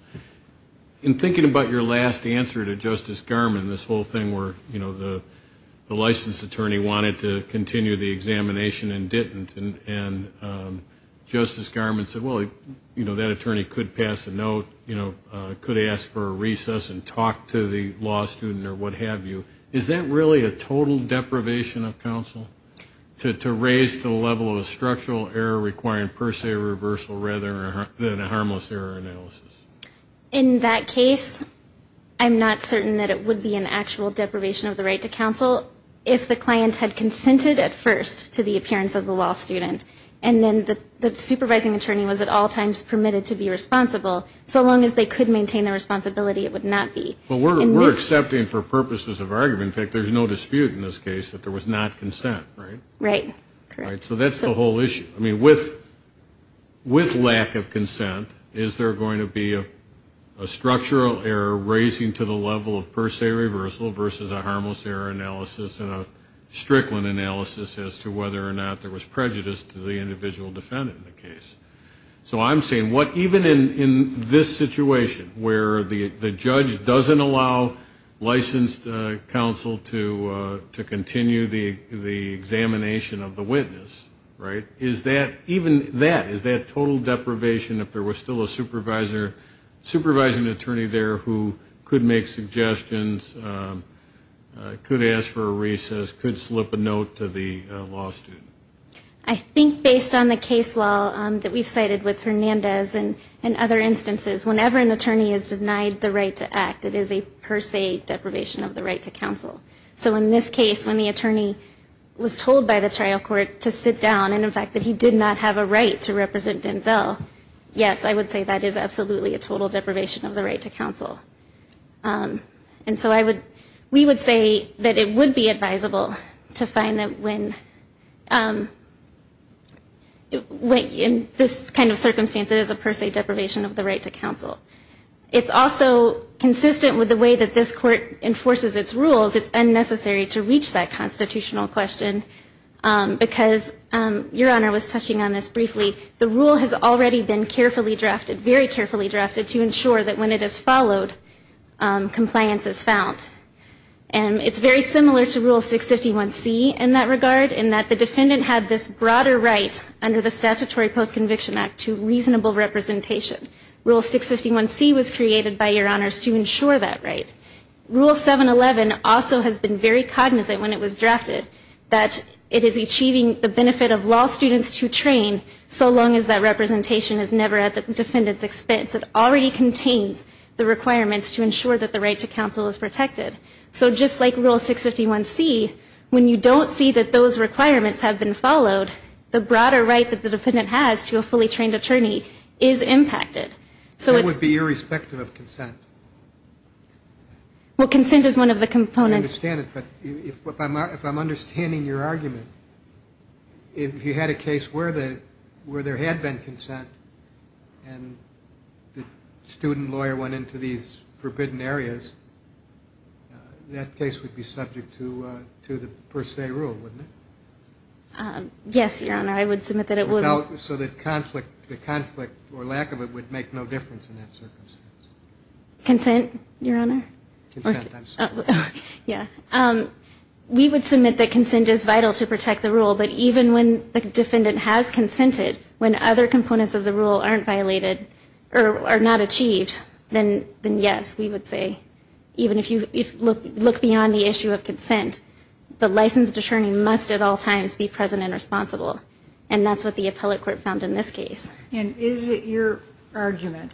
In thinking about your last answer to Justice Garmon, this whole thing where, you know, the licensed attorney wanted to continue the examination and didn't, and Justice Garmon said, well, you know, that attorney could pass a note, you know, could ask for a recess and talk to the law student or what have you. Is that really a total deprivation of counsel to raise the level of structural error requiring per se reversal rather than a harmless error analysis? In that case, I'm not certain that it would be an actual deprivation of the right to counsel if the client had consented at first to the appearance of the law student and then the supervising attorney was at all times permitted to be responsible. So long as they could maintain their responsibility, it would not be. Well, we're accepting for purposes of argument, in fact, there's no dispute in this case that there was not consent, right? Right, correct. So that's the whole issue. I mean, with lack of consent, is there going to be a structural error raising to the level of per se reversal versus a harmless error analysis and a Strickland analysis as to whether or not there was prejudice to the individual defendant in the case? So I'm saying what even in this situation where the judge doesn't allow licensed counsel to continue the examination of the witness, right, is that, even that, is that total deprivation if there was still a supervising attorney there who could make suggestions, could ask for a recess, could slip a note to the law student? I think based on the case law that we've cited with Hernandez and other instances, whenever an attorney is denied the right to act, it is a per se deprivation of the right to counsel. So in this case, when the attorney was told by the trial court to sit down, and in fact that he did not have a right to represent Denzel, yes, I would say that is absolutely a total deprivation of the right to counsel. And so I would, we would say that it would be advisable to find that when, in this kind of circumstance, it is a per se deprivation of the right to counsel. It's also consistent with the way that this court enforces its rules. It's unnecessary to reach that constitutional question because, Your Honor was touching on this briefly, the rule has already been carefully drafted, very carefully drafted, to ensure that when it is followed, compliance is found. And it's very similar to Rule 651C in that regard, in that the defendant had this broader right under the Statutory Post-Conviction Act to reasonable representation. Rule 651C was created by Your Honors to ensure that right. Rule 711 also has been very cognizant when it was drafted, that it is achieving the benefit of law students to train, so long as that representation is never at the defendant's expense. It already contains the requirements to ensure that the right to counsel is protected. So just like Rule 651C, when you don't see that those requirements have been followed, the broader right that the defendant has to a fully trained attorney is impacted. So it's... That would be irrespective of consent. Well, consent is one of the components. I understand it, but if I'm understanding your argument, if you had a case where there had been consent, and the student lawyer went into these forbidden areas, that case would be subject to the per se rule, wouldn't it? Yes, Your Honor. I would submit that it would. So the conflict or lack of it would make no difference in that circumstance. Consent, Your Honor? Consent, I'm sorry. Yeah. We would submit that consent is vital to protect the rule, but even when the defendant has consented, when other components of the rule aren't violated or are not achieved, then yes, we would say, even if you look beyond the issue of consent, the licensed attorney must at all times be present and responsible. And that's what the appellate court found in this case. And is it your argument,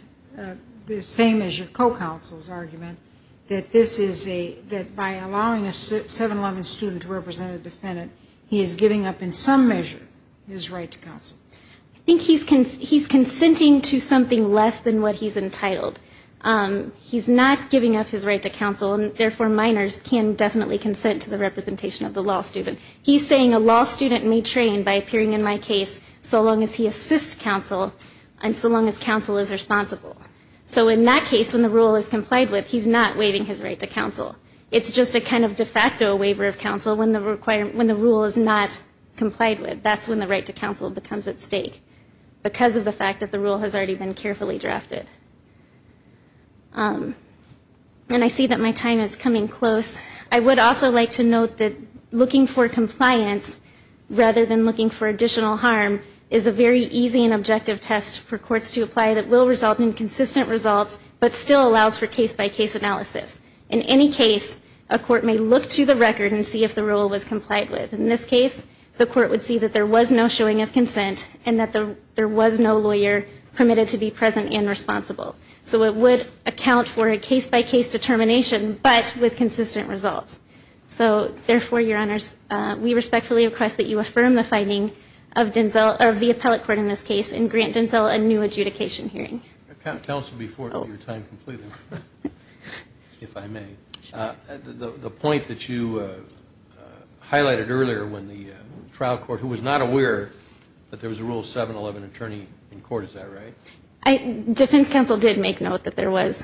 the same as your co-counsel's argument, that this is a by allowing a 7-11 student to represent a defendant, I think he's consenting to something less than what he's entitled. He's not giving up his right to counsel, and therefore minors can definitely consent to the representation of the law student. He's saying a law student may train by appearing in my case so long as he assists counsel and so long as counsel is responsible. So in that case, when the rule is complied with, he's not waiving his right to counsel. It's just a kind of de facto waiver of counsel when the rule is not complied with. And that's when the right to counsel becomes at stake because of the fact that the rule has already been carefully drafted. And I see that my time is coming close. I would also like to note that looking for compliance rather than looking for additional harm is a very easy and objective test for courts to apply that will result in consistent results but still allows for case-by-case analysis. In any case, a court may look to the record and see if the rule was complied with. In this case, the court would see that there was no showing of consent and that there was no lawyer permitted to be present and responsible. So it would account for a case-by-case determination but with consistent results. So therefore, Your Honors, we respectfully request that you affirm the finding of Denzel or of the appellate court in this case and grant Denzel a new adjudication hearing. Can I counsel before your time completely, if I may? The point that you highlighted earlier when the trial court, who was not aware that there was a Rule 711 attorney in court, is that right? Defense counsel did make note that there was.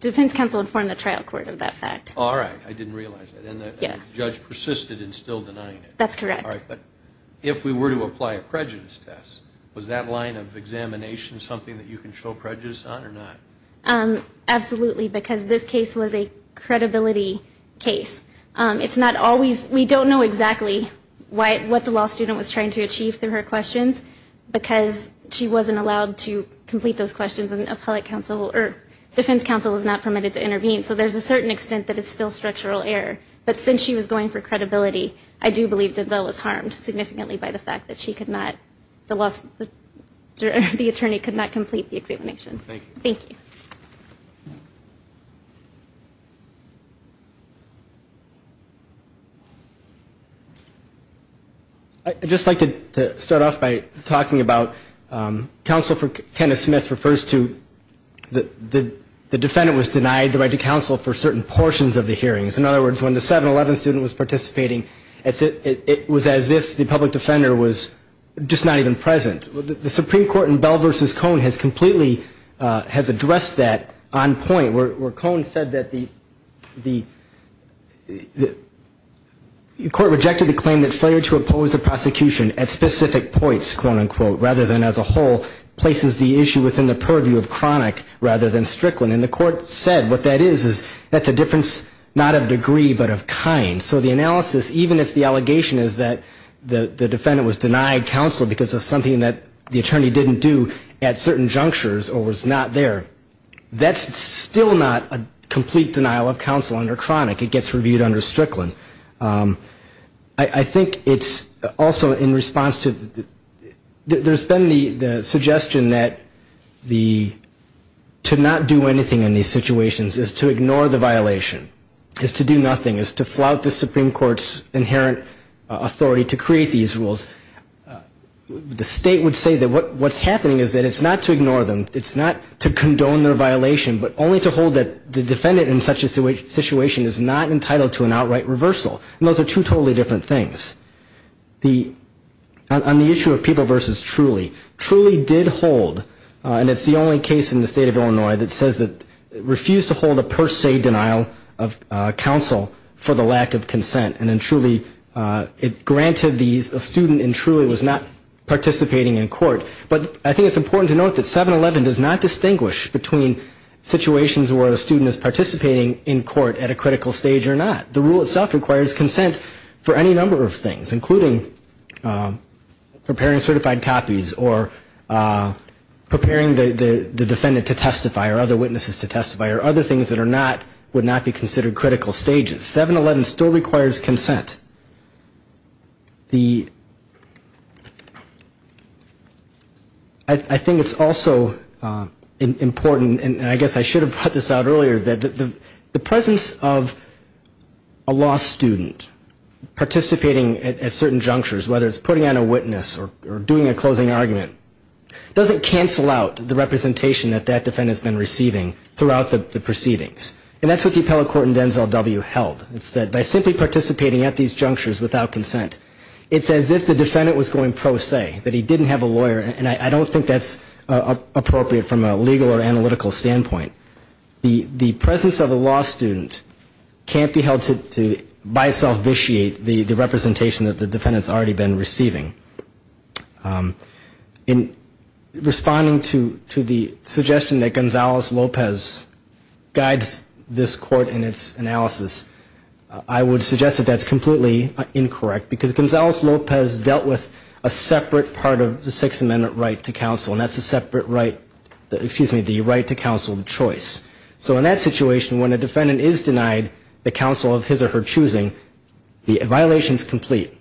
Defense counsel informed the trial court of that fact. All right. I didn't realize that. And the judge persisted in still denying it. That's correct. All right. But if we were to apply a prejudice test, was that line of examination something that you can show prejudice on or not? Absolutely. Because this case was a credibility case. It's not always we don't know exactly what the law student was trying to achieve through her questions because she wasn't allowed to complete those questions and defense counsel was not permitted to intervene. So there's a certain extent that it's still structural error. But since she was going for credibility, I do believe Denzel was harmed significantly by the fact that she could not, the attorney could not complete the examination. Thank you. Thank you. I'd just like to start off by talking about counsel for Kenneth Smith refers to the defendant was denied the right to counsel for certain portions of the hearings. In other words, when the 711 student was participating, it was as if the public defender was just not even present. The Supreme Court in Bell v. Cohn has completely has addressed that on point where Cohn said that the court rejected the claim that failure to oppose a prosecution at specific points, quote, unquote, rather than as a whole places the issue within the purview of chronic rather than strickland. And the court said what that is is that's a difference not of degree but of kind. So the analysis, even if the allegation is that the defendant was denied counsel because of something that the attorney didn't do at certain junctures or was not there, that's still not a complete denial of counsel under chronic. It gets reviewed under strickland. I think it's also in response to there's been the suggestion that the to not do anything in these situations is to ignore the Supreme Court's inherent authority to create these rules. The state would say that what's happening is that it's not to ignore them, it's not to condone their violation, but only to hold that the defendant in such a situation is not entitled to an outright reversal. And those are two totally different things. On the issue of People v. Truly, Truly did hold, and it's the only case in the state of Illinois that says that refused to hold a per se denial of counsel for the lack of consent. And then Truly, it granted these, a student in Truly was not participating in court. But I think it's important to note that 711 does not distinguish between situations where a student is participating in court at a critical stage or not. The rule itself requires consent for any number of things, including preparing certified copies or preparing the defendant to testify or other witnesses to testify or other things that are not, would not be considered critical stages. 711 still requires consent. The, I think it's also important, and I guess I should have brought this out earlier, that the presence of a law student participating at certain junctures, whether it's putting on a witness or doing a closing argument, doesn't cancel out the representation that that defendant's been receiving throughout the proceedings. And that's what the appellate court in Denzel W. held. It said by simply participating at these junctures without consent, it's as if the defendant was going pro se, that he didn't have a lawyer. And I don't think that's appropriate from a legal or analytical standpoint. The presence of a law student can't be held to, by itself, vitiate the representation that the defendant's already been receiving. In responding to the suggestion that Gonzales-Lopez guides this court in its analysis, I would suggest that that's completely incorrect, because Gonzales-Lopez dealt with a separate part of the Sixth Amendment right to counsel, and that's a separate right, excuse me, the right to counsel of choice. So in that situation, when a defendant is denied the counsel of his or her choosing, the violation's complete.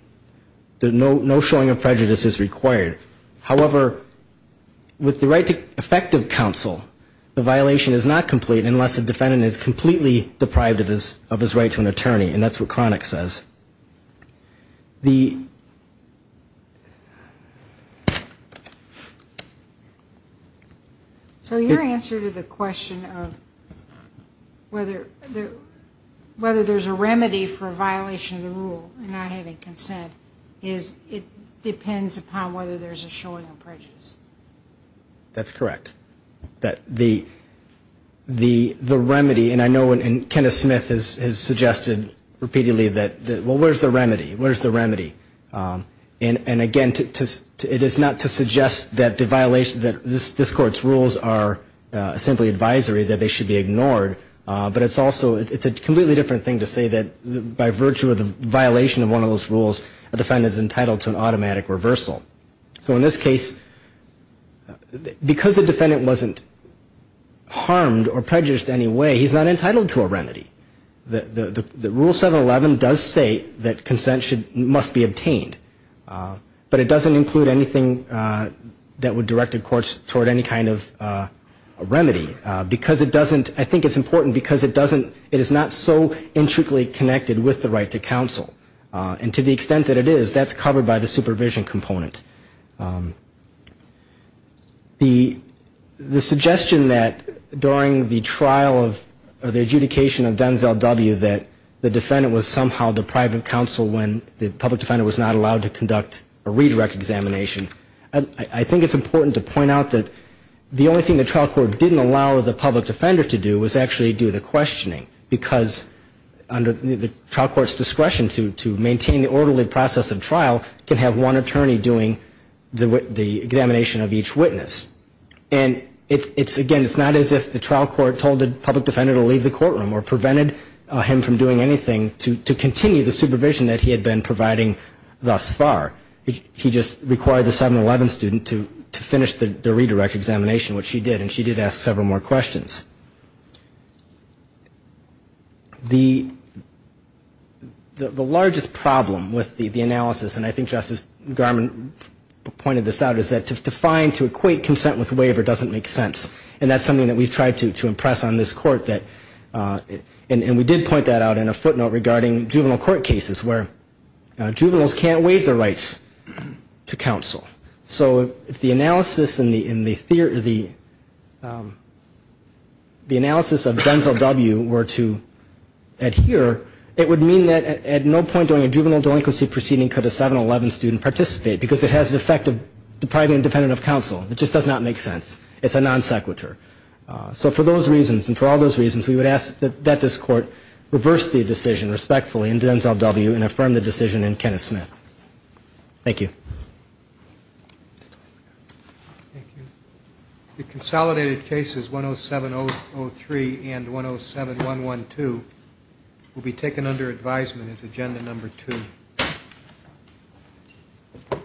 No showing of prejudice is required. However, with the right to effective counsel, the violation is not complete unless the defendant is completely deprived of his right to an attorney, and that's what Cronick says. The... is it depends upon whether there's a showing of prejudice. That's correct. The remedy, and I know Kenneth Smith has suggested repeatedly that, well, where's the remedy? Where's the remedy? And again, it is not to suggest that the violation, that this Court's rules are simply advisory, that they should be ignored, but it's also, it's a completely different thing to say that by virtue of the violation of one of those rules, a defendant is entitled to an automatic reversal. So in this case, because the defendant wasn't harmed or prejudiced in any way, he's not entitled to a remedy. The Rule 711 does state that consent must be obtained, but it doesn't include anything that would direct the courts toward any kind of remedy, because it doesn't, I think it's important because it doesn't, it is not so intricately connected with the right to counsel. And to the extent that it is, that's covered by the supervision component. The suggestion that during the trial of, the adjudication of Denzel W. that the defendant was somehow deprived of counsel when the public defender was not allowed to conduct a redirect examination, I think it's important to point out that the only thing the trial court didn't allow the public defender to do was actually do the questioning, because under the trial court's discretion to maintain the orderly process of trial can have one attorney doing the examination of each witness. And it's, again, it's not as if the trial court told the public defender to leave the courtroom or prevented him from doing anything to continue the supervision that he had been providing thus far. He just required the 711 student to finish the redirect examination, which she did, and she did ask several more questions. The largest problem with the analysis, and I think Justice Garmon pointed this out, is that to find, to equate consent with waiver doesn't make sense. And that's something that we've tried to impress on this court, and we did point that out in a footnote regarding juvenile court cases, where juveniles can't waive their rights to counsel. So if the analysis of Denzel W. were to adhere, it would mean that at no point during a juvenile delinquency proceeding could a 711 student participate, because it has the effect of depriving a defendant of counsel. It just does not make sense. It's a non sequitur. So for those reasons, and for all those reasons, we would ask that this court reverse the decision respectfully in Denzel W. and affirm the decision in Kenneth Smith. Thank you. The consolidated cases 10703 and 107112 will be taken under advisement as agenda number two.